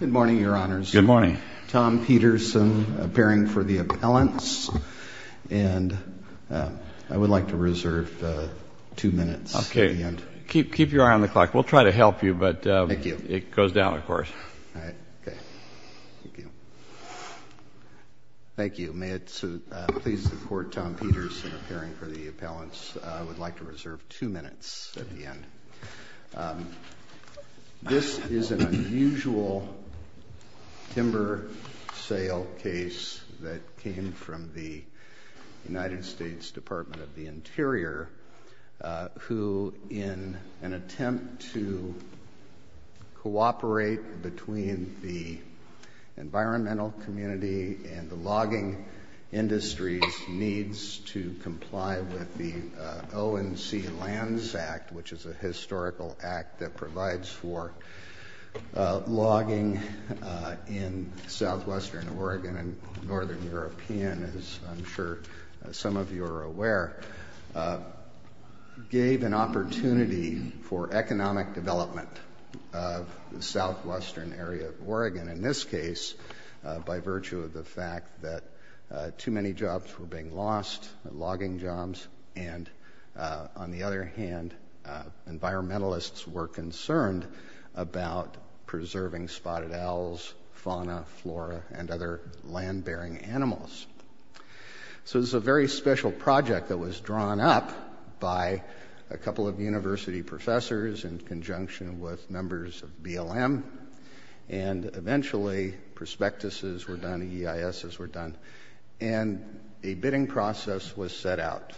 Good morning, your honors. Good morning. Tom Peterson, appearing for the appellants, and I would like to reserve two minutes. Okay, keep your eye on the clock. We'll try to help you, but it goes down, of course. Thank you. May it please the court, Tom Peterson appearing for the appellants. I would This is an unusual timber sale case that came from the United States Department of the Interior, who in an attempt to cooperate between the environmental community and the logging industries needs to comply with the ONC Lands Act, which is a historical act that provides for logging in southwestern Oregon and northern European, as I'm sure some of you are aware, gave an opportunity for economic development of the southwestern area of Oregon, in this case by virtue of the fact that too many jobs were being lost, logging jobs, and on the other hand environmentalists were concerned about preserving spotted owls, fauna, flora, and other land-bearing animals. So this is a very special project that was drawn up by a couple of university professors in conjunction with members of BLM, and eventually prospectuses were done, EISs were done, and a bidding process was set out.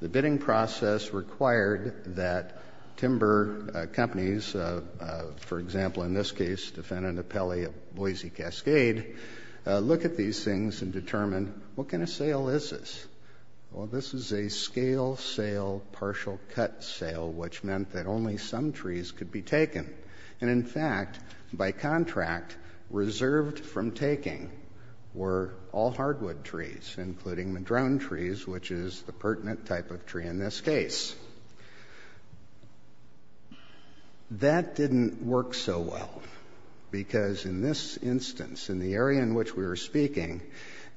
The bidding process required that timber companies, for example in this case defendant appellee of Boise Cascade, look at these things and determine what kind of sale is this? Well this is a scale sale, partial cut sale, which meant that only some trees could be taken, and in fact by contract reserved from taking were all hardwood trees, including madrone trees, which is the pertinent type of tree in this case. That didn't work so well because in this instance, in the area in which we were speaking,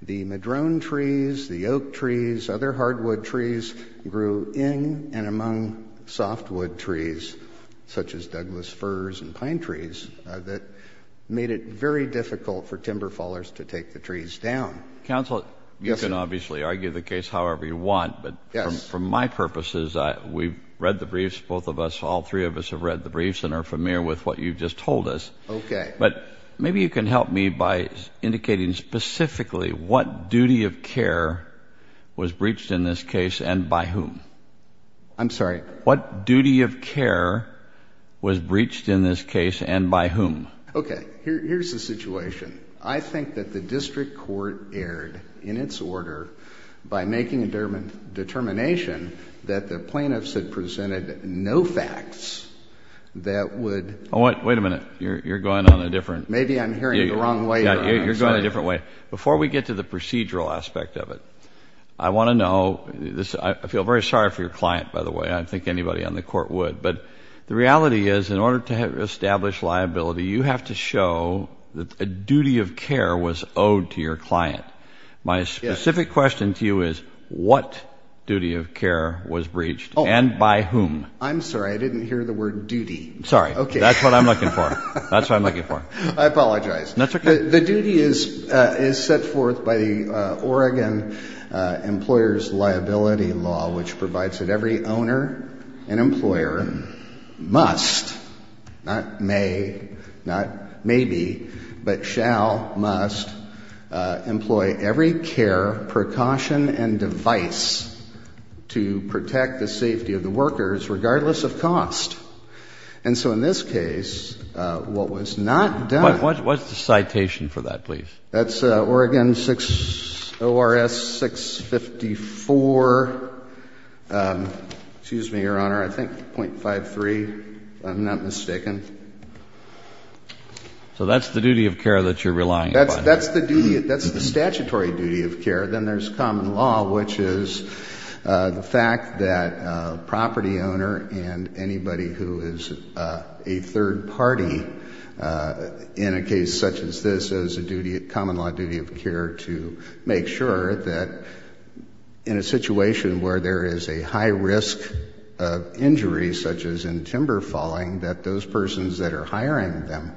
the madrone trees, the oak trees, other hardwood trees grew in and among softwood trees, such as Douglas firs and to take the trees down. Counsel, you can obviously argue the case however you want, but for my purposes, we've read the briefs, both of us, all three of us have read the briefs and are familiar with what you've just told us. Okay. But maybe you can help me by indicating specifically what duty of care was breached in this case and by whom? I'm sorry? What duty of care was breached in this case and by whom? Okay, here's the situation. I think that the district court erred in its order by making a determination that the plaintiffs had presented no facts that would... Wait a minute, you're going on a different... Maybe I'm hearing it the wrong way. You're going a different way. Before we get to the procedural aspect of it, I want to know, I feel very sorry for your client by the way, I think anybody on the court would, but the reality is in order to have established liability, you have to show that a duty of care was owed to your client. My specific question to you is what duty of care was breached and by whom? I'm sorry, I didn't hear the word duty. Sorry. Okay. That's what I'm looking for. That's what I'm looking for. I apologize. That's okay. The duty is set forth by the Oregon Employers Liability Law, which provides that every owner and employer must, not may, not maybe, but shall, must employ every care, precaution and device to protect the safety of the workers regardless of cost. And so in this case, what was not done... What's the citation for that please? That's Oregon 6 ORS 654. Excuse me, Your Honor, I think .53 if I'm not mistaken. So that's the duty of care that you're relying upon. That's the statutory duty of care. Then there's common law, which is the fact that a property owner and anybody who is a third party, in a case such as this, has a duty, a common law duty of care to make sure that in a situation where there is a high risk of injury, such as in timber falling, that those persons that are hiring them,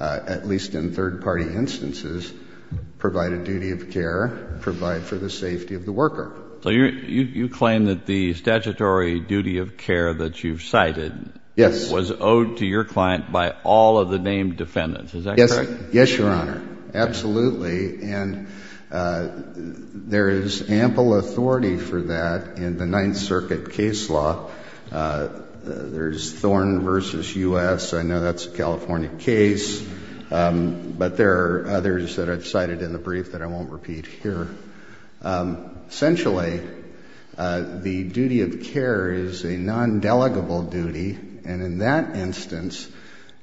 at least in third party instances, provide a duty of care, provide for the safety of the worker. So you claim that the statutory duty of care that you've cited... Yes. ...was owed to your client by all of the named defendants. Is that correct? Yes, Your Honor. Absolutely. And there is ample authority for that in the Ninth Circuit case law. There's Thorn v. U.S. I know that's a California case, but there are others that I've cited in the brief that I won't repeat here. Essentially, the duty of care is a non-delegable duty, and in that instance,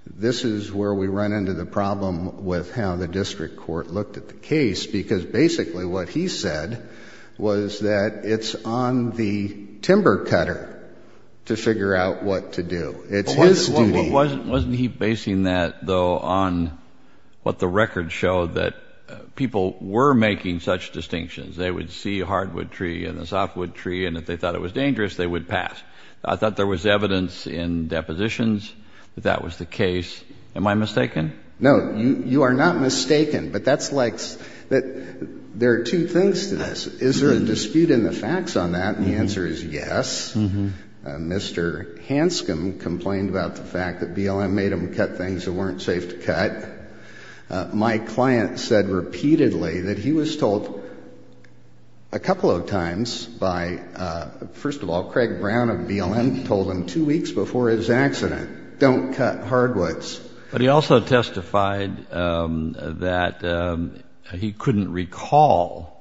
this is where we run into the problem with how the district court looked at the case, because basically what he said was that it's on the timber cutter to figure out what to do. It's his duty. Wasn't he basing that, though, on what the records showed, that people were making such distinctions. They would see a hardwood tree and a softwood tree, and if they thought it was dangerous, they would pass. I thought there was evidence in depositions that that was the case. Am I mistaken? No, you are not mistaken, but that's like that there are two things to this. Is there a dispute in the facts on that? The answer is yes. Mr. Hanscom complained about the fact that BLM made him cut things that weren't safe to cut. My client said repeatedly that he was told a couple of times by, first of all, Craig Brown of BLM told him two weeks before his accident, don't cut hardwoods. But he also testified that he couldn't recall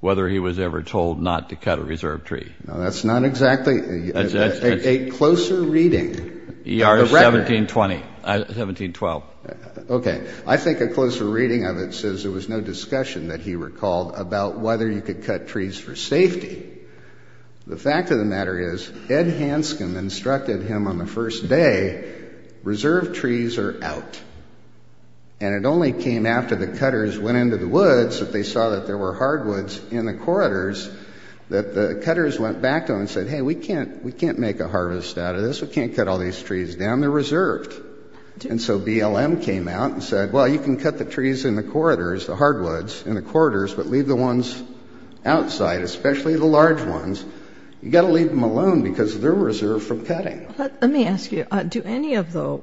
whether he was ever told not to cut a reserve tree. No, that's not exactly, a closer reading. ER 1720, 1712. Okay, I think a closer reading of it says there was no discussion that he recalled about whether you could cut trees for safety. The fact of the matter is, Ed Hanscom instructed him on the first day, reserve trees are out. And it only came after the cutters went into the woods, that they saw that there were hardwoods in the corridors, that the cutters went back to him and said, hey, we can't make a harvest out of this. We can't cut all these trees down. They're reserved. And so BLM came out and said, well, you can cut the trees in the corridors, the hardwoods in the corridors, but leave the ones outside, especially the large ones. You've got to leave them alone because they're reserved for cutting. Let me ask you, do any of the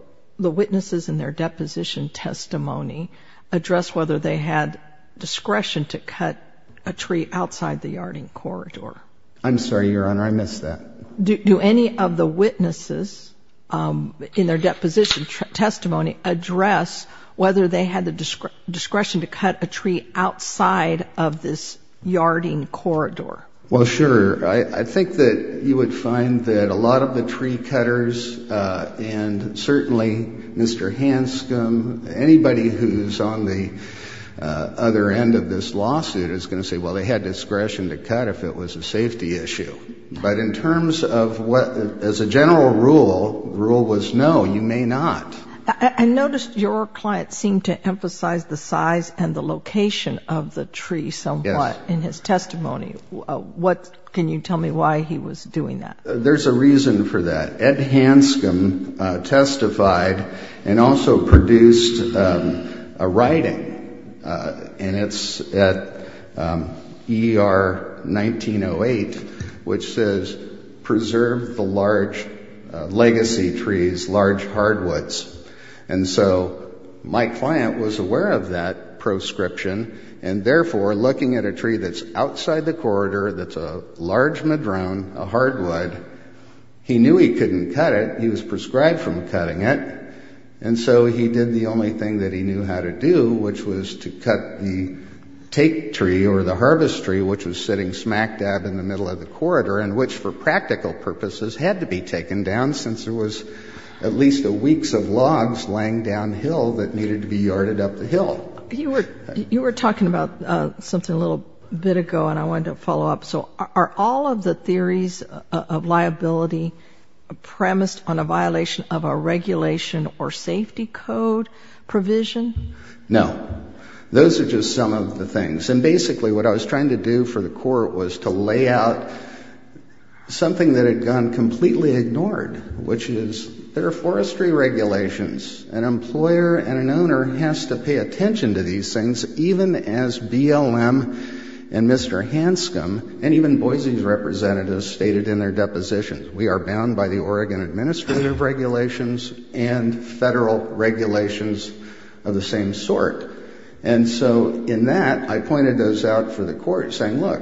witnesses in their deposition testimony address whether they had discretion to cut a tree outside the yarding corridor? I'm sorry, Your Honor, I missed that. Do any of the witnesses in their deposition testimony address whether they had the discretion to cut a tree outside of this yarding corridor? Well, sure. I think that you would find that a lot of the tree cutters, and certainly Mr. Hanscom, anybody who's on the other end of this lawsuit is going to say, well, they had discretion to cut if it was a safety issue. But in terms of what, as a general rule, the rule was no, you may not. I noticed your client seemed to emphasize the size and the location of the tree somewhat in his testimony. What, can you tell me why he was doing that? There's a reason for that. Ed Hanscom testified and also produced a writing, and it's at ER 1908, which says, preserve the large legacy trees, large hardwoods. And so my client was aware of that proscription, and therefore, looking at a tree that's outside the corridor, that's a large madrone, a hardwood, he knew he couldn't cut it. He was prescribed from cutting it, and so he did the only thing that he knew how to do, which was to cut the tape tree or the harvest tree, which was sitting smack dab in the middle of the corridor, and which for practical purposes had to be taken down since there was at least a weeks of logs laying downhill that needed to be yarded up the hill. You were talking about something a little bit ago, and I wanted to follow up. So are all of the theories of liability premised on a violation of a regulation or safety code provision? No. Those are just some of the things. And basically, what I was trying to do for the court was to lay out something that had gone completely ignored, which is there are forestry regulations. An employer and an owner has to pay attention to these things, even as BLM and Mr. Hanscom and even Boise's representatives stated in their depositions. We are bound by the Oregon Administrative Regulations and federal regulations of the same sort. And so in that, I pointed those out for the court, saying, look,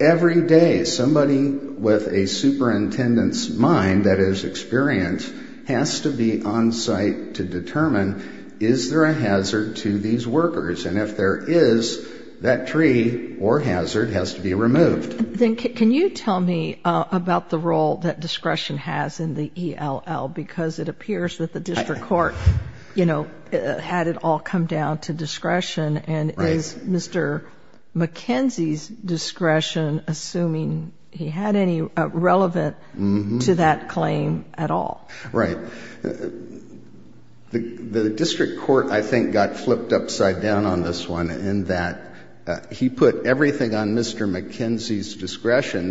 every day somebody with a superintendent's mind, that is experience, has to be on site to determine, is there a hazard to these workers? And if there is, that tree or tree has to be removed. Then can you tell me about the role that discretion has in the ELL? Because it appears that the district court, you know, had it all come down to discretion. And is Mr. McKenzie's discretion, assuming he had any relevant to that claim at all? Right. The district court, I think, got discretion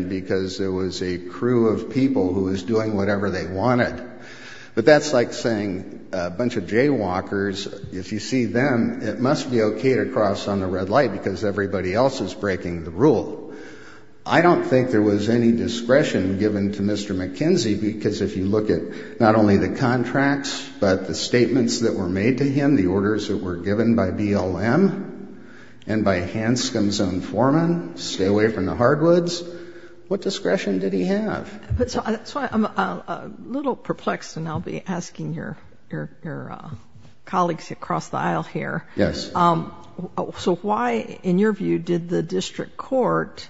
because there was a crew of people who was doing whatever they wanted. But that's like saying a bunch of jaywalkers, if you see them, it must be okay to cross on the red light because everybody else is breaking the rule. I don't think there was any discretion given to Mr. McKenzie, because if you look at not only the contracts, but the statements that were made to him, the orders that were given by BLM and by Hanscom's own foreman, stay away from the hardwoods. What discretion did he have? That's why I'm a little perplexed, and I'll be asking your colleagues across the aisle here. Yes. So why, in your view, did the district court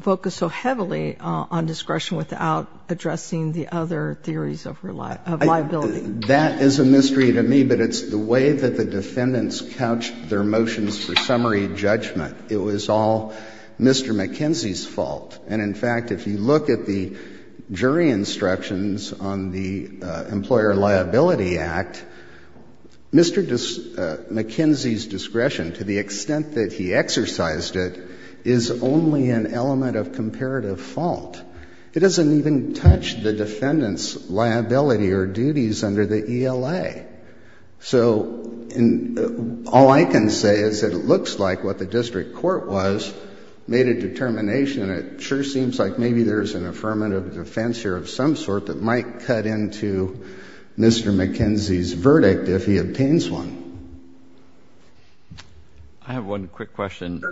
focus so heavily on discretion without addressing the other theories of liability? That is a mystery to me, but it's the way that the defendants couched their motions for summary judgment. It was all Mr. McKenzie's fault. And, in fact, if you look at the jury instructions on the Employer Liability Act, Mr. McKenzie's discretion, to the extent that he exercised it, is only an element of comparative fault. It doesn't even touch the defendant's liability or duties under the ELA. So all I can say is that it looks like what the district court was made a determination, and it sure seems like maybe there's an affirmative defense here of some sort that might cut into Mr. McKenzie's verdict if he obtains one. I have one quick question. Go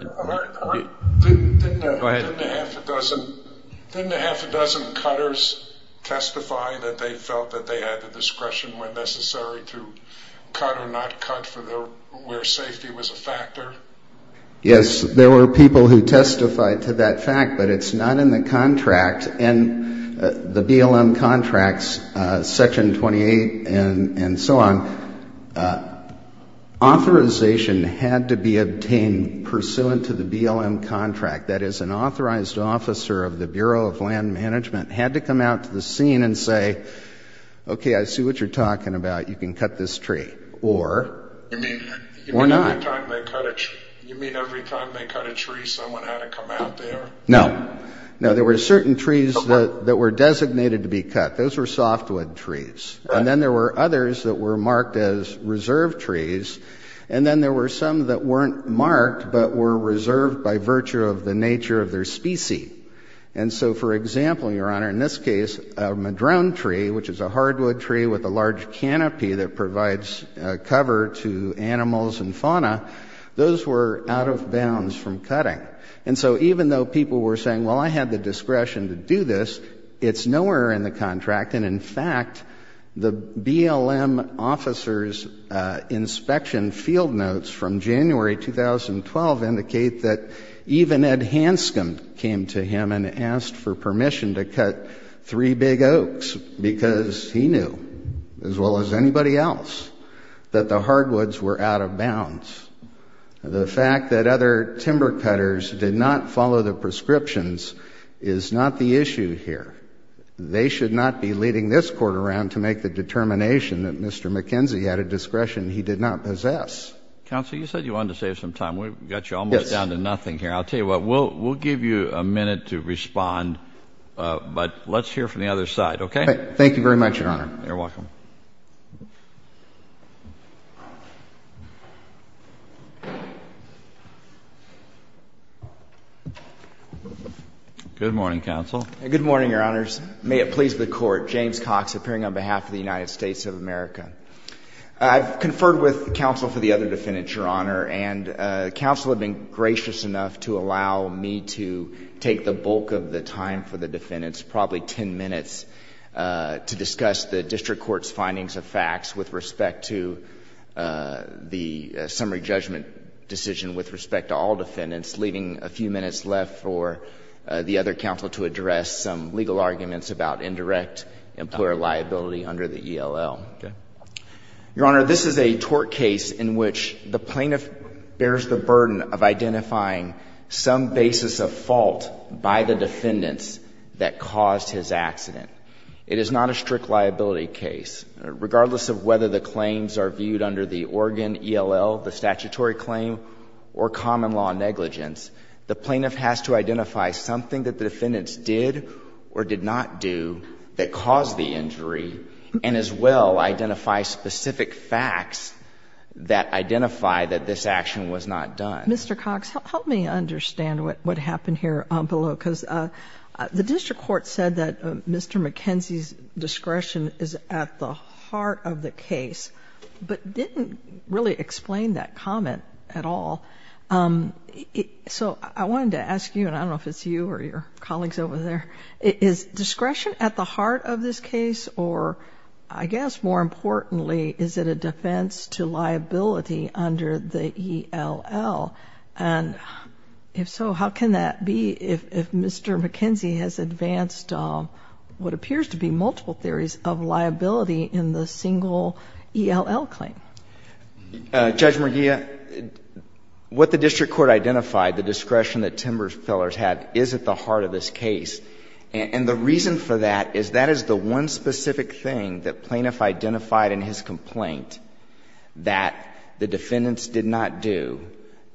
ahead. Didn't a half a dozen cutters testify that they felt that they had the discretion when necessary to cut or not cut where safety was a factor? Yes, there were people who testified to that fact, but it's not in the contract. In the BLM contracts, Section 28 and so on, authorization had to be obtained pursuant to the BLM contract. That is, an authorized officer of the Bureau of Land Management had to come out to the scene and say, okay, I see what you're talking about. You can cut this tree. Or not. You mean every time they cut a tree, someone had to come out there? No. No, there were certain trees that were designated to be cut. Those were softwood trees. And then there were others that were marked as reserve trees. And then there were some that weren't marked but were reserved by virtue of the nature of their species. And so, for example, Your Honor, in this case, a madrone tree, which is a hardwood tree with a large canopy that provides cover to animals and fauna, those were out of bounds from cutting. And so even though people were saying, well, I had the discretion to do this, it's nowhere in the contract. And in fact, the BLM officer's inspection field notes from January 2012 indicate that even Ed Hanscom came to him and asked for permission to cut three big oaks because he knew, as well as anybody else, that the hardwoods were out of bounds. The fact that other timber cutters did not follow the prescriptions is not the issue here. They should not be leading this Court around to make the determination that Mr. McKenzie had a discretion he did not possess. Counsel, you said you wanted to save some time. We've got you almost down to nothing here. I'll tell you what, we'll give you a minute to respond, but let's hear from the other side, okay? Thank you very much, Your Honor. You're welcome. Good morning, counsel. Good morning, Your Honors. May it please the Court. James Cox, appearing on behalf of the United States of America. I've conferred with counsel for the other defendants, Your Honor, and counsel have been gracious enough to allow me to take the bulk of the time for the defendants, probably ten minutes, to discuss the district court's findings of facts with respect to the summary judgment decision with respect to all defendants, leaving a few minutes left for the other counsel to address some legal arguments about indirect employer liability under the ELL. Okay. Your Honor, this is a tort case in which the plaintiff bears the burden of identifying some basis of fault by the defendants that caused his accident. It is not a strict liability case. Regardless of whether the claims are viewed under the Oregon ELL, the statutory claim, or common law negligence, the plaintiff has to identify something that the defendants did or did not do that caused the injury, and as well, identify specific facts that identify that this action was not done. Mr. Cox, help me understand what happened here below, because the district court said that Mr. McKenzie's discretion is at the heart of the case, but didn't really explain that comment at all. So I wanted to ask you, and I don't know if it's you or your colleagues over there, is discretion at the heart of this case, or I guess more importantly, is it a defense to liability under the ELL? And if so, how can that be if Mr. McKenzie has advanced what appears to be multiple theories of liability in the single ELL claim? Judge McGeeh, what the district court identified, the discretion that Timberfellers had, is at the heart of this case. And the reason for that is that is the one specific thing that plaintiff identified in his complaint that the defendants did not do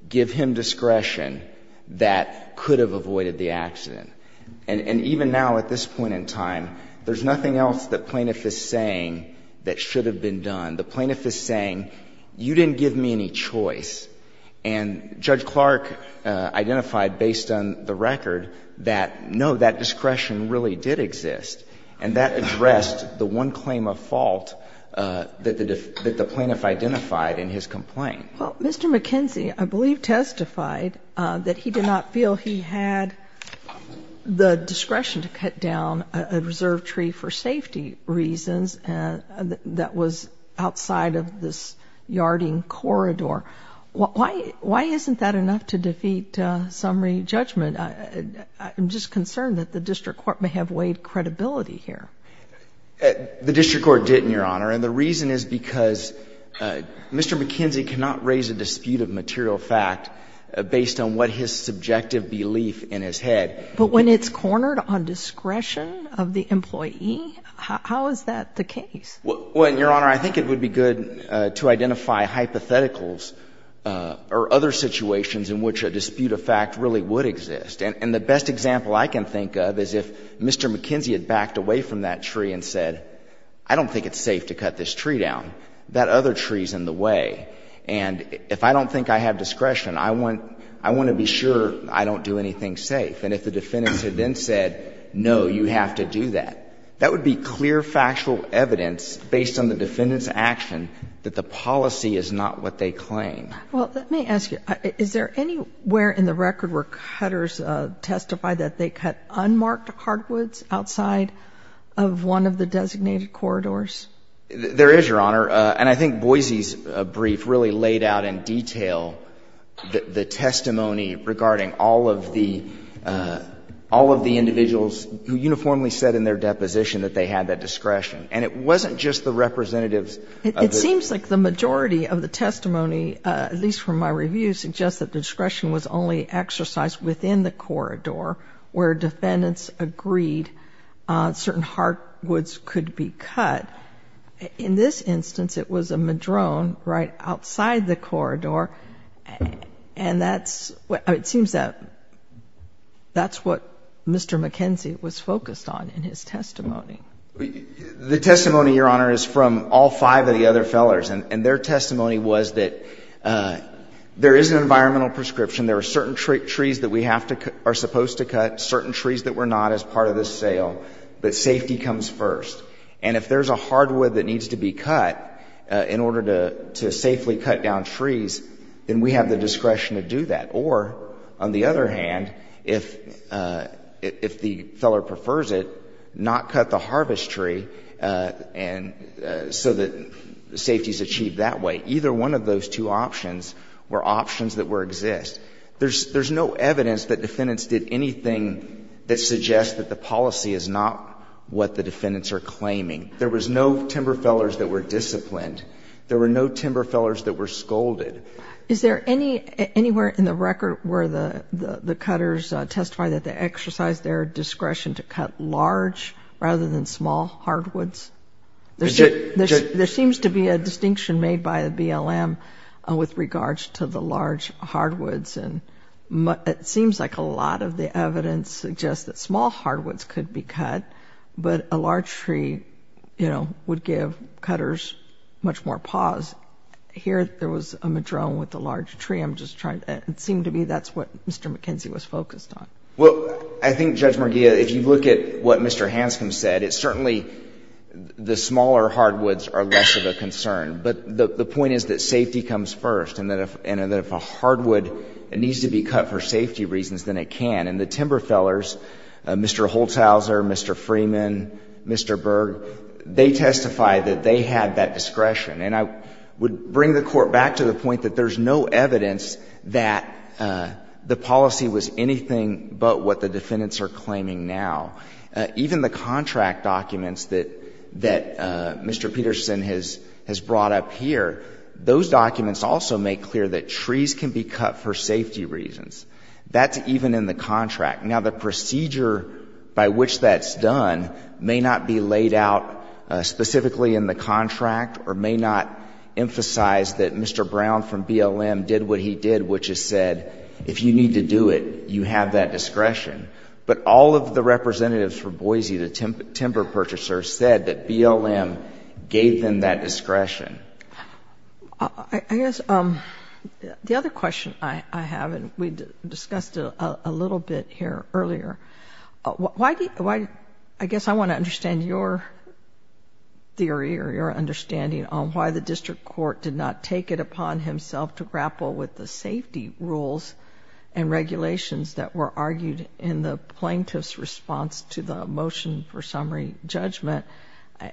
give him discretion that could have avoided the accident. And even now, at this point in time, there's plaintiff is saying, you didn't give me any choice. And Judge Clark identified based on the record that, no, that discretion really did exist. And that addressed the one claim of fault that the plaintiff identified in his complaint. Well, Mr. McKenzie, I believe, testified that he did not feel he had the discretion to cut down a reserve tree for safety reasons that was outside of this yarding corridor. Why isn't that enough to defeat summary judgment? I'm just concerned that the district court may have weighed credibility here. The district court didn't, Your Honor, and the reason is because Mr. McKenzie cannot raise a dispute of material fact based on what his subjective belief in his head. But when it's cornered on discretion of the employee, how is that the case? Well, Your Honor, I think it would be good to identify hypotheticals or other situations in which a dispute of fact really would exist. And the best example I can think of is if Mr. McKenzie had backed away from that tree and said, I don't think it's safe to cut this tree down. That other tree is in the way. And if I don't think I have discretion, I want to be sure I don't do anything safe. And if the defendant had then said, no, you have to do that, that would be clear factual evidence based on the defendant's action that the policy is not what they claim. Well, let me ask you, is there anywhere in the record where cutters testify that they cut unmarked hardwoods outside of one of the designated corridors? There is, Your Honor. And I think Boise's brief really laid out in detail the testimony regarding all of the individuals who uniformly said in their deposition that they had that discretion. And it wasn't just the representatives of the groups. It seems like the majority of the testimony, at least from my review, suggests that discretion was only exercised within the corridor where defendants agreed certain hardwoods could be cut. In this instance, it was a madrone right outside the corridor. And that's what — it seems that that's what Mr. McKenzie was focused on in his testimony. The testimony, Your Honor, is from all five of the other fellers. And their testimony was that there is an environmental prescription, there are certain trees that we have to — are supposed to cut, certain trees that we're not as part of this sale, but safety comes first. And if there's a hardwood that needs to be cut in order to safely cut down trees, then we have the discretion to do that. Or, on the other hand, if the feller prefers it, not cut the harvest tree so that safety is achieved that way. Either one of those two options were options that were exist. There's no evidence that defendants did anything that suggests that the policy is not what the defendants are claiming. There was no timber fellers that were disciplined. There were no timber fellers that were scolded. Is there any — anywhere in the record where the cutters testify that they exercised their discretion to cut large rather than small hardwoods? There seems to be a distinction made by the BLM with regards to the large hardwoods. And it seems like a lot of the evidence suggests that small hardwoods could be cut, but a large tree, you know, would give cutters much more pause. Here, there was a madrone with a large tree. I'm just trying — it seemed to be that's what Mr. McKenzie was focused on. Well, I think, Judge Merguia, if you look at what Mr. Hanscom said, it's certainly the smaller hardwoods are less of a concern. But the point is that safety comes first, and that if a hardwood needs to be cut for safety reasons, then it can. And the timber fellers, Mr. Holzhauser, Mr. Freeman, Mr. Berg, they testified that they had that discretion. And I would bring the Court back to the point that there's no evidence that the policy was anything but what the defendants are claiming now. Even the contract documents that Mr. Peterson has brought up here, those documents also make clear that trees can be cut for safety reasons. That's even in the contract. Now, the procedure by which that's done may not be laid out specifically in the contract or may not emphasize that Mr. Brown from BLM did what he did, which is said, if you need to do it, you have that discretion. But all of the representatives for Boise, the timber purchasers, said that BLM gave them that discretion. I guess the other question I have, and we discussed it a little bit here earlier, I guess I want to understand your theory or your understanding on why the district court did not take it into account. I mean, there were some regulations that were argued in the plaintiff's response to the motion for summary judgment.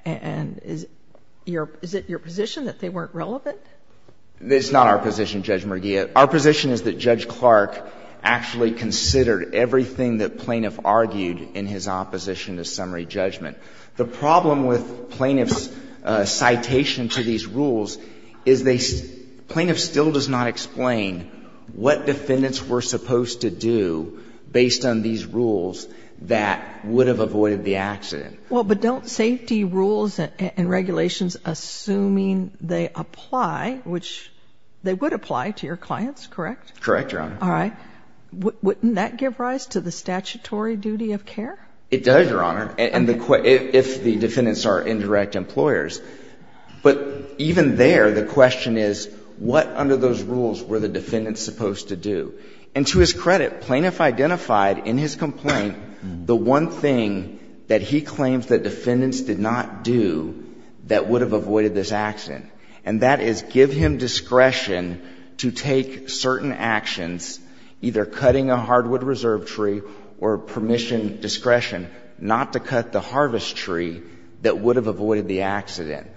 And is it your position that they weren't relevant? It's not our position, Judge Mergia. Our position is that Judge Clark actually considered everything that plaintiff argued in his opposition to summary judgment. The problem with plaintiff's citation to these rules is they – plaintiff still does not explain what defendants were supposed to do based on these rules that would have avoided the accident. Well, but don't safety rules and regulations, assuming they apply, which they would apply to your clients, correct? Correct, Your Honor. All right. Wouldn't that give rise to the statutory duty of care? It does, Your Honor, if the defendants are indirect employers. But even there, the rules were the defendants' supposed to do. And to his credit, plaintiff identified in his complaint the one thing that he claims that defendants did not do that would have avoided this accident. And that is give him discretion to take certain actions, either cutting a hardwood reserve tree or permission discretion not to cut the harvest tree that would have avoided the accident.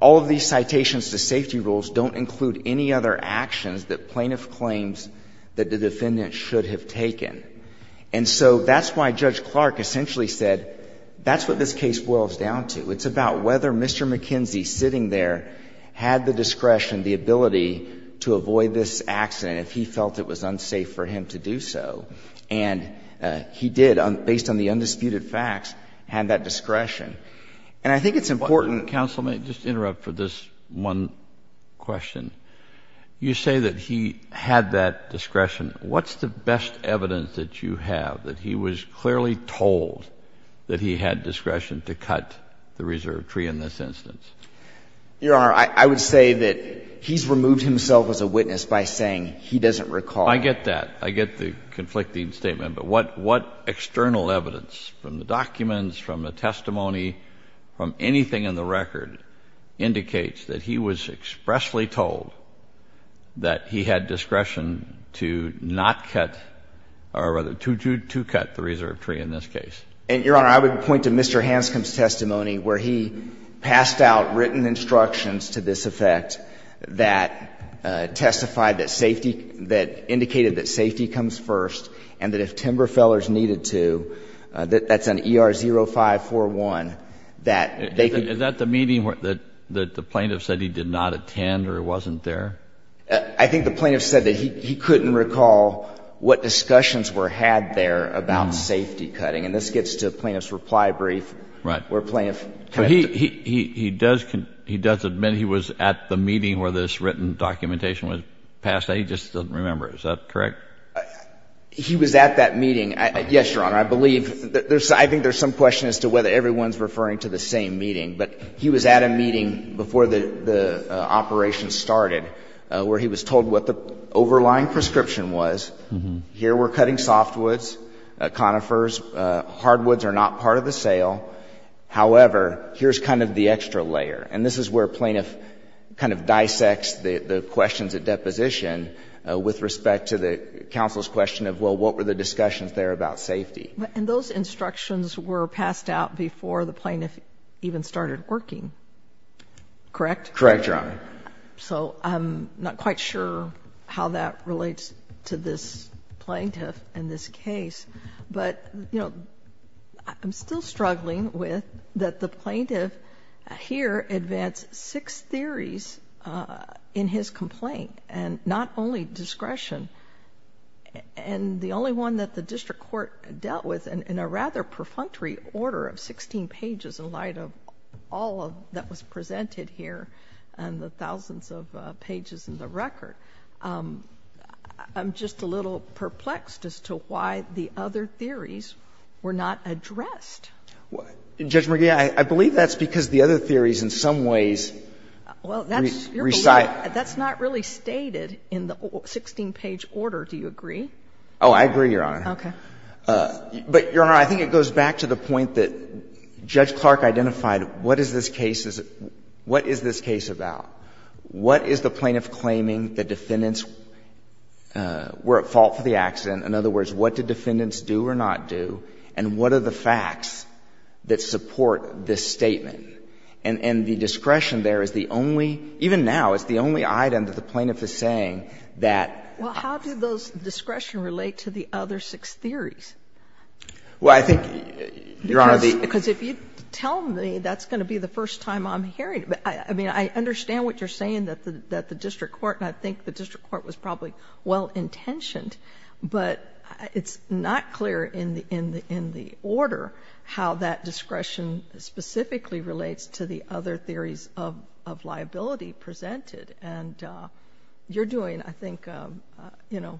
All of these citations to safety rules don't include any other actions that plaintiff claims that the defendant should have taken. And so that's why Judge Clark essentially said that's what this case boils down to. It's about whether Mr. McKenzie sitting there had the discretion, the ability to avoid this accident if he felt it was unsafe for him to do so. And he did, based on the undisputed facts, had that discretion. And I think it's important. Kennedy, counsel, may I just interrupt for this one question? You say that he had that discretion. What's the best evidence that you have that he was clearly told that he had discretion to cut the reserve tree in this instance? Your Honor, I would say that he's removed himself as a witness by saying he doesn't recall. I get that. I get the conflicting statement. But what external evidence, from the anything in the record, indicates that he was expressly told that he had discretion to not cut or rather to cut the reserve tree in this case? Your Honor, I would point to Mr. Hanscom's testimony where he passed out written instructions to this effect that testified that safety, that indicated that safety comes first and that if timber fellers needed to, that's an ER0541, that they could Is that the meeting that the plaintiff said he did not attend or wasn't there? I think the plaintiff said that he couldn't recall what discussions were had there about safety cutting. And this gets to the plaintiff's reply brief. Right. Where plaintiff kind of He does admit he was at the meeting where this written documentation was passed out. He just doesn't remember. Is that correct? He was at that meeting. Yes, Your Honor. I believe. I think there's some question as to whether everyone's referring to the same meeting. But he was at a meeting before the operation started where he was told what the overlying prescription was. Here we're cutting softwoods, conifers. Hardwoods are not part of the sale. However, here's kind of the extra layer. And this is where plaintiff kind of dissects the questions at deposition with respect to the counsel's question of, well, what were the discussions there about safety? And those instructions were passed out before the plaintiff even started working. Correct? Correct, Your Honor. So I'm not quite sure how that relates to this plaintiff and this case. But, you know, I'm still struggling with that the plaintiff here advanced six theories in his complaint, and not only discretion. And the only one that the district court dealt with, in a rather perfunctory order of 16 pages in light of all that was presented here and the thousands of pages in the record, I'm just a little perplexed as to why the other theories were not addressed. Judge McGee, I believe that's because the other theories in some ways recite Your Honor, that's not really stated in the 16-page order. Do you agree? Oh, I agree, Your Honor. Okay. But, Your Honor, I think it goes back to the point that Judge Clark identified what is this case about? What is the plaintiff claiming the defendants were at fault for the accident? In other words, what did defendants do or not do? And what are the facts that support this statement? And the discretion there is the only, even now, it's the only item that the plaintiff is saying that. Well, how do those discretion relate to the other six theories? Well, I think, Your Honor, the. Because if you tell me, that's going to be the first time I'm hearing it. I mean, I understand what you're saying that the district court, and I think the district court was probably well-intentioned, but it's not clear in the order how that discretion specifically relates to the other theories of liability presented. And you're doing, I think, you know,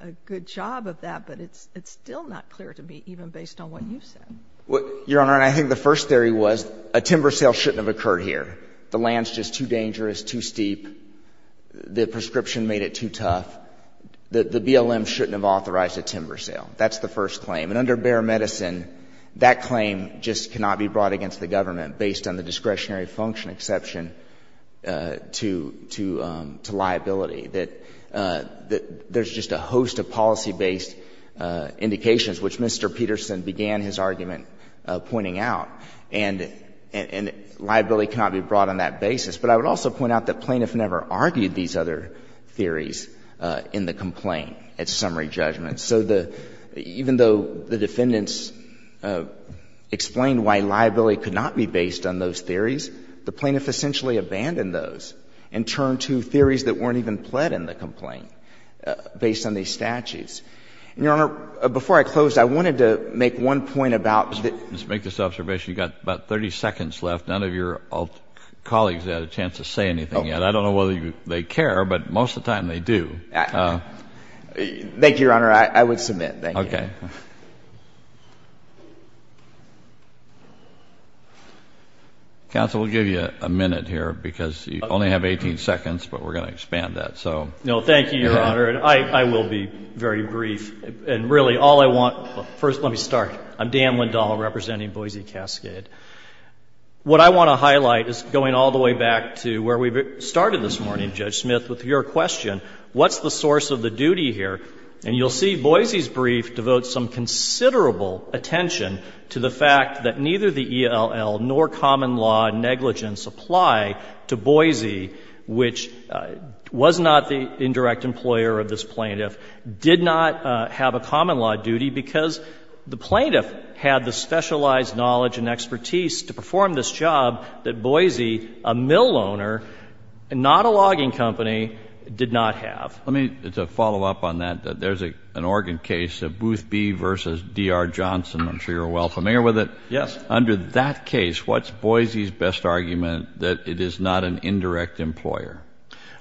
a good job of that, but it's still not clear to me, even based on what you've said. Your Honor, I think the first theory was a timber sale shouldn't have occurred here. The land's just too dangerous, too steep. The prescription made it too tough. The BLM shouldn't have authorized a timber sale. That's the first claim. And under Bexar Medicine, that claim just cannot be brought against the government based on the discretionary function exception to liability. There's just a host of policy-based indications, which Mr. Peterson began his argument pointing out, and liability cannot be brought on that basis. But I would also point out that plaintiff never argued these other theories in the complaint at summary judgment. So even though the defendants explained why liability could not be based on those theories, the plaintiff essentially abandoned those and turned to theories that weren't even pled in the complaint based on these statutes. And, Your Honor, before I close, I wanted to make one point about the — Just make this observation. You've got about 30 seconds left. None of your colleagues have had a chance to say anything yet. I don't know whether they care, but most of the time they do. Thank you, Your Honor. I would submit. Thank you. Okay. Counsel, we'll give you a minute here because you only have 18 seconds, but we're going to expand that. No, thank you, Your Honor. And I will be very brief. And really, all I want — first let me start. I'm Dan Lindahl representing Boise Cascade. What I want to highlight is going all the way back to where we started this morning, Judge Smith, with your question, what's the source of the duty here? And you'll see Boise's brief devotes some considerable attention to the fact that neither the ELL nor common law negligence apply to Boise, which was not the indirect employer of this plaintiff, did not have a common law duty because the plaintiff had the specialized knowledge and expertise to perform this job that Boise, a mill owner, not a logging company, did not have. Let me — to follow up on that, there's an Oregon case, Boothby v. D.R. Johnson. I'm sure you're well familiar with it. Yes. Under that case, what's Boise's best argument that it is not an indirect employer?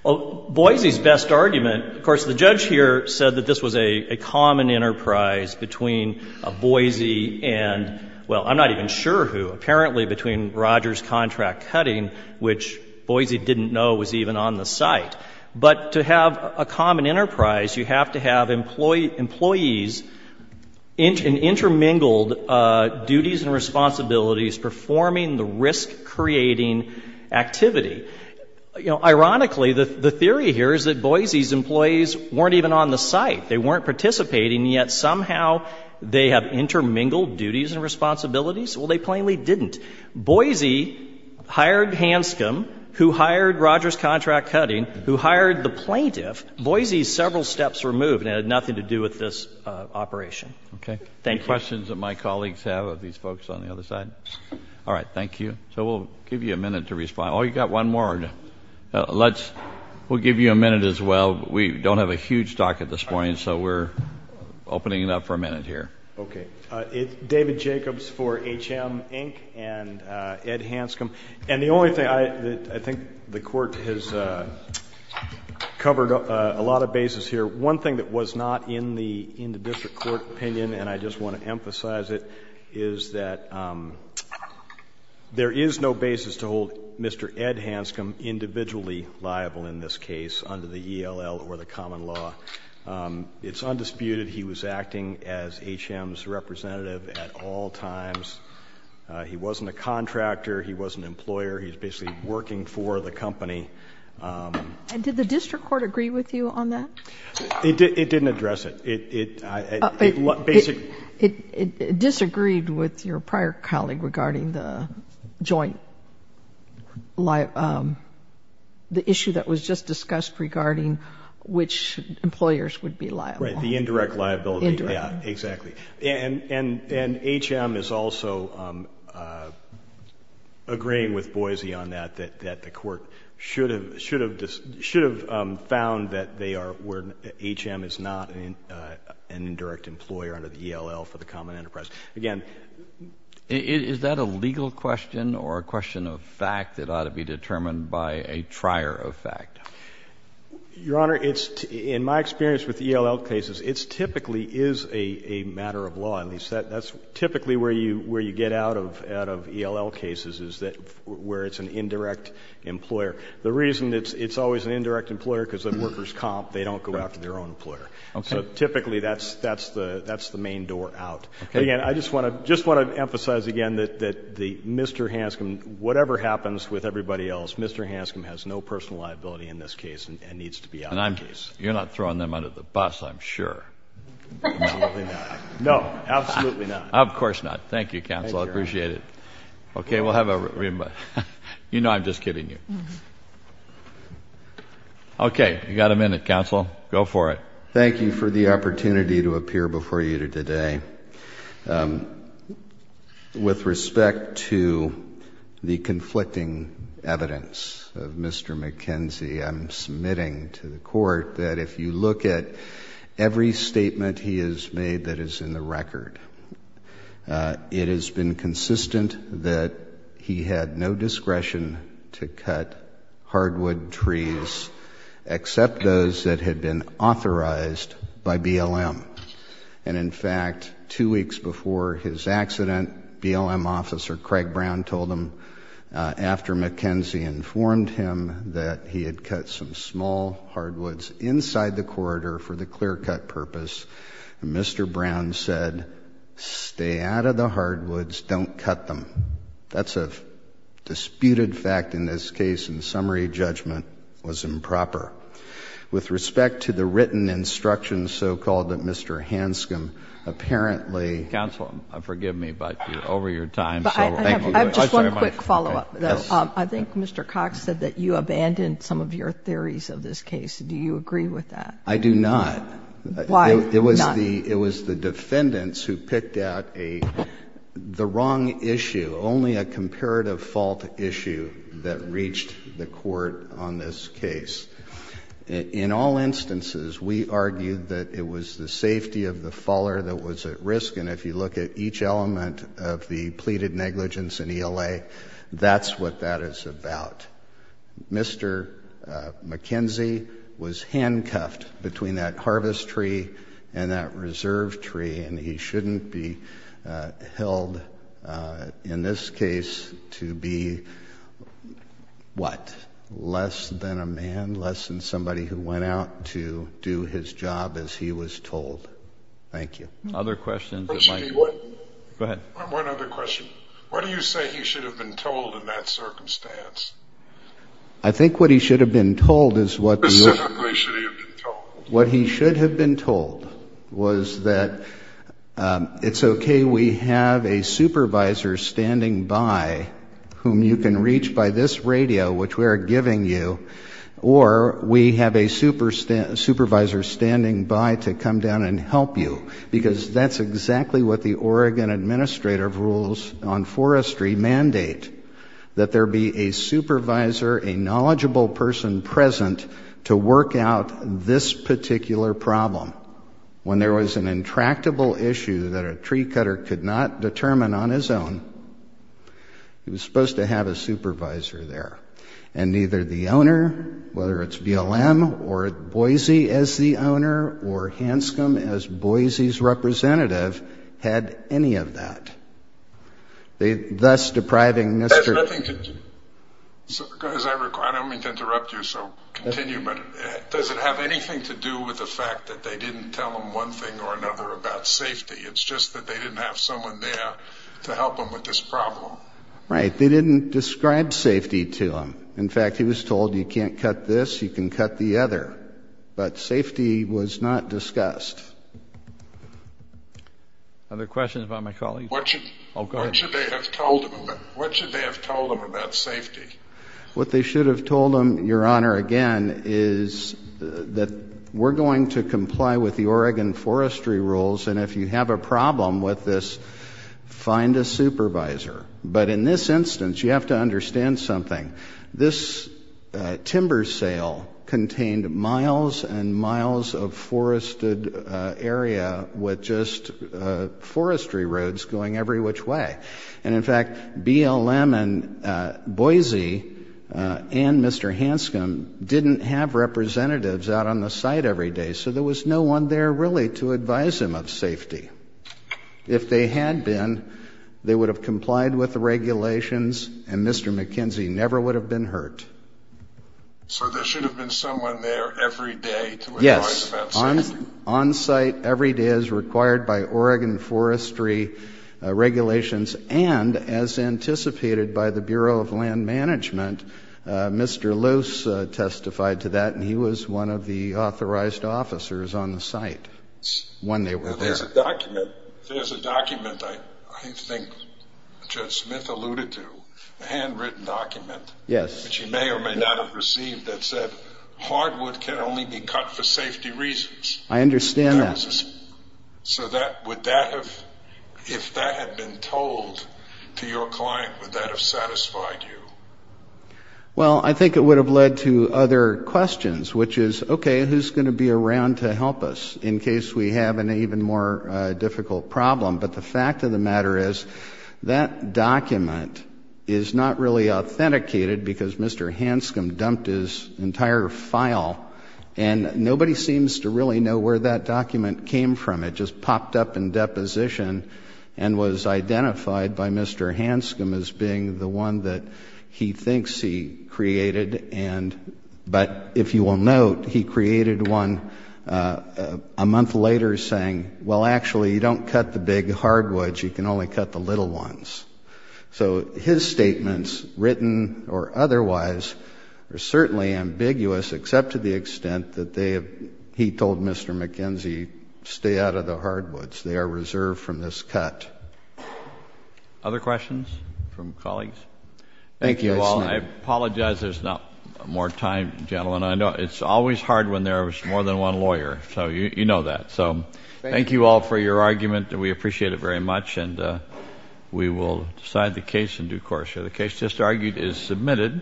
Boise's best argument — of course, the judge here said that this was a common enterprise between Boise and — well, I'm not even sure who, apparently between Rogers Contract Cutting, which Boise didn't know was even on the site. But to have a common enterprise, you have to have employees in intermingled duties and responsibilities performing the risk-creating activity. You know, ironically, the theory here is that Boise's employees weren't even on the site. They weren't participating, yet somehow they have intermingled duties and responsibilities. Well, they plainly didn't. Boise hired Hanscom, who hired Rogers Contract Cutting, who hired the plaintiff. Boise's several steps were moved, and it had nothing to do with this operation. Okay. Thank you. Any questions that my colleagues have of these folks on the other side? All right. Thank you. So we'll give you a minute to respond. Oh, you've got one more. Let's — we'll give you a minute as well. We don't have a huge docket this morning, so we're opening it up for a minute here. Okay. David Jacobs for HM Inc. and Ed Hanscom. And the only thing — I think the Court has covered a lot of bases here. One thing that was not in the district court opinion, and I just want to emphasize it, is that there is no basis to hold Mr. Ed Hanscom individually liable in this case under the ELL or the common law. It's undisputed he was acting as HM's representative at all times. He wasn't a contractor. He wasn't an employer. He was basically working for the company. And did the district court agree with you on that? It didn't address it. It — It disagreed with your prior colleague regarding the joint — the issue that was just discussed regarding which employers would be liable. Right. The indirect liability. Indirect. Yeah. Exactly. And HM is also agreeing with Boise on that, that the Court should have found that they are — where HM is not an indirect employer under the ELL for the common enterprise. Again — Is that a legal question or a question of fact that ought to be determined by a trier of fact? Your Honor, it's — in my experience with ELL cases, it typically is a matter of law. At least that's typically where you — where you get out of ELL cases is that — where it's an indirect employer. The reason it's always an indirect employer because the workers comp, they don't go after their own employer. Okay. So typically that's the main door out. Okay. But again, I just want to emphasize again that Mr. Hanscom, whatever happens with everybody else, Mr. Hanscom has no personal liability in this case and needs to be out of the case. And I'm — you're not throwing them under the bus, I'm sure. Absolutely not. No. Absolutely not. Of course not. Thank you, counsel. Thank you, Your Honor. I appreciate it. Okay. We'll have a — you know I'm just kidding you. Okay. You've got a minute, counsel. Go for it. Thank you for the opportunity to appear before you today. With respect to the conflicting evidence of Mr. McKenzie, I'm submitting to the court that if you look at every statement he has made that is in the record, it has been consistent that he had no discretion to cut hardwood trees except those that had been authorized by BLM. And in fact, two weeks before his accident, BLM officer Craig Brown told him, after McKenzie informed him that he had cut some small hardwoods inside the corridor for the clear-cut purpose, Mr. Brown said, stay out of the hardwoods, don't cut them. That's a disputed fact in this case, and summary judgment was improper. With respect to the written instructions so-called that Mr. Hanscom apparently— Counsel, forgive me, but you're over your time. I have just one quick follow-up, though. Yes. I think Mr. Cox said that you abandoned some of your theories of this case. Do you agree with that? I do not. Why not? It was the defendants who picked out the wrong issue, only a comparative fault issue that reached the court on this case. In all instances, we argued that it was the safety of the faller that was at risk, and if you look at each element of the pleaded negligence in ELA, that's what that is about. Mr. McKenzie was handcuffed between that harvest tree and that reserve tree, and he shouldn't be held in this case to be, what, less than a man, less than somebody who went out to do his job as he was told. Thank you. Other questions? Go ahead. One other question. What do you say he should have been told in that circumstance? I think what he should have been told is what he should have been told was that it's okay we have a supervisor standing by whom you can reach by this radio, which we are giving you, or we have a supervisor standing by to come down and help you, because that's exactly what the Oregon Administrative Rules on Forestry mandate, that there be a supervisor, a knowledgeable person present to work out this particular problem. When there was an intractable issue that a tree cutter could not determine on his own, he was supposed to have a supervisor there. And neither the owner, whether it's BLM or Boise as the owner or Hanscom as Boise's representative, had any of that, thus depriving Mr. I don't mean to interrupt you, so continue, but does it have anything to do with the fact that they didn't tell him one thing or another about safety? It's just that they didn't have someone there to help him with this problem. Right. They didn't describe safety to him. In fact, he was told you can't cut this, you can cut the other. But safety was not discussed. Other questions about my colleague? What should they have told him about safety? What they should have told him, Your Honor, again, is that we're going to comply with the Oregon Forestry Rules, and if you have a problem with this, find a supervisor. But in this instance, you have to understand something. This timber sale contained miles and miles of forested area with just forestry roads going every which way. And, in fact, BLM and Boise and Mr. Hanscom didn't have representatives out on the site every day, so there was no one there really to advise him of safety. If they had been, they would have complied with the regulations, and Mr. McKenzie never would have been hurt. So there should have been someone there every day to advise about safety? Yes. On site every day as required by Oregon Forestry regulations, and as anticipated by the Bureau of Land Management, Mr. Luce testified to that, and he was one of the authorized officers on the site when they were there. There's a document, I think Judge Smith alluded to, a handwritten document that you may or may not have received that said hardwood can only be cut for safety reasons. I understand that. So would that have, if that had been told to your client, would that have satisfied you? Well, I think it would have led to other questions, which is, okay, who's going to be around to help us in case we have an even more difficult problem? But the fact of the matter is that document is not really authenticated because Mr. Hanscom dumped his entire file, and nobody seems to really know where that document came from. It just popped up in deposition and was identified by Mr. Hanscom as being the one that he thinks he created, but if you will note, he created one a month later saying, well, actually, you don't cut the big hardwoods, you can only cut the little ones. So his statements, written or otherwise, are certainly ambiguous, except to the extent that they have, he told Mr. McKenzie, stay out of the hardwoods. They are reserved from this cut. Other questions from colleagues? Thank you. Well, I apologize there's not more time, gentlemen. I know it's always hard when there's more than one lawyer, so you know that. So thank you all for your argument. We appreciate it very much, and we will decide the case in due course. The case just argued is submitted.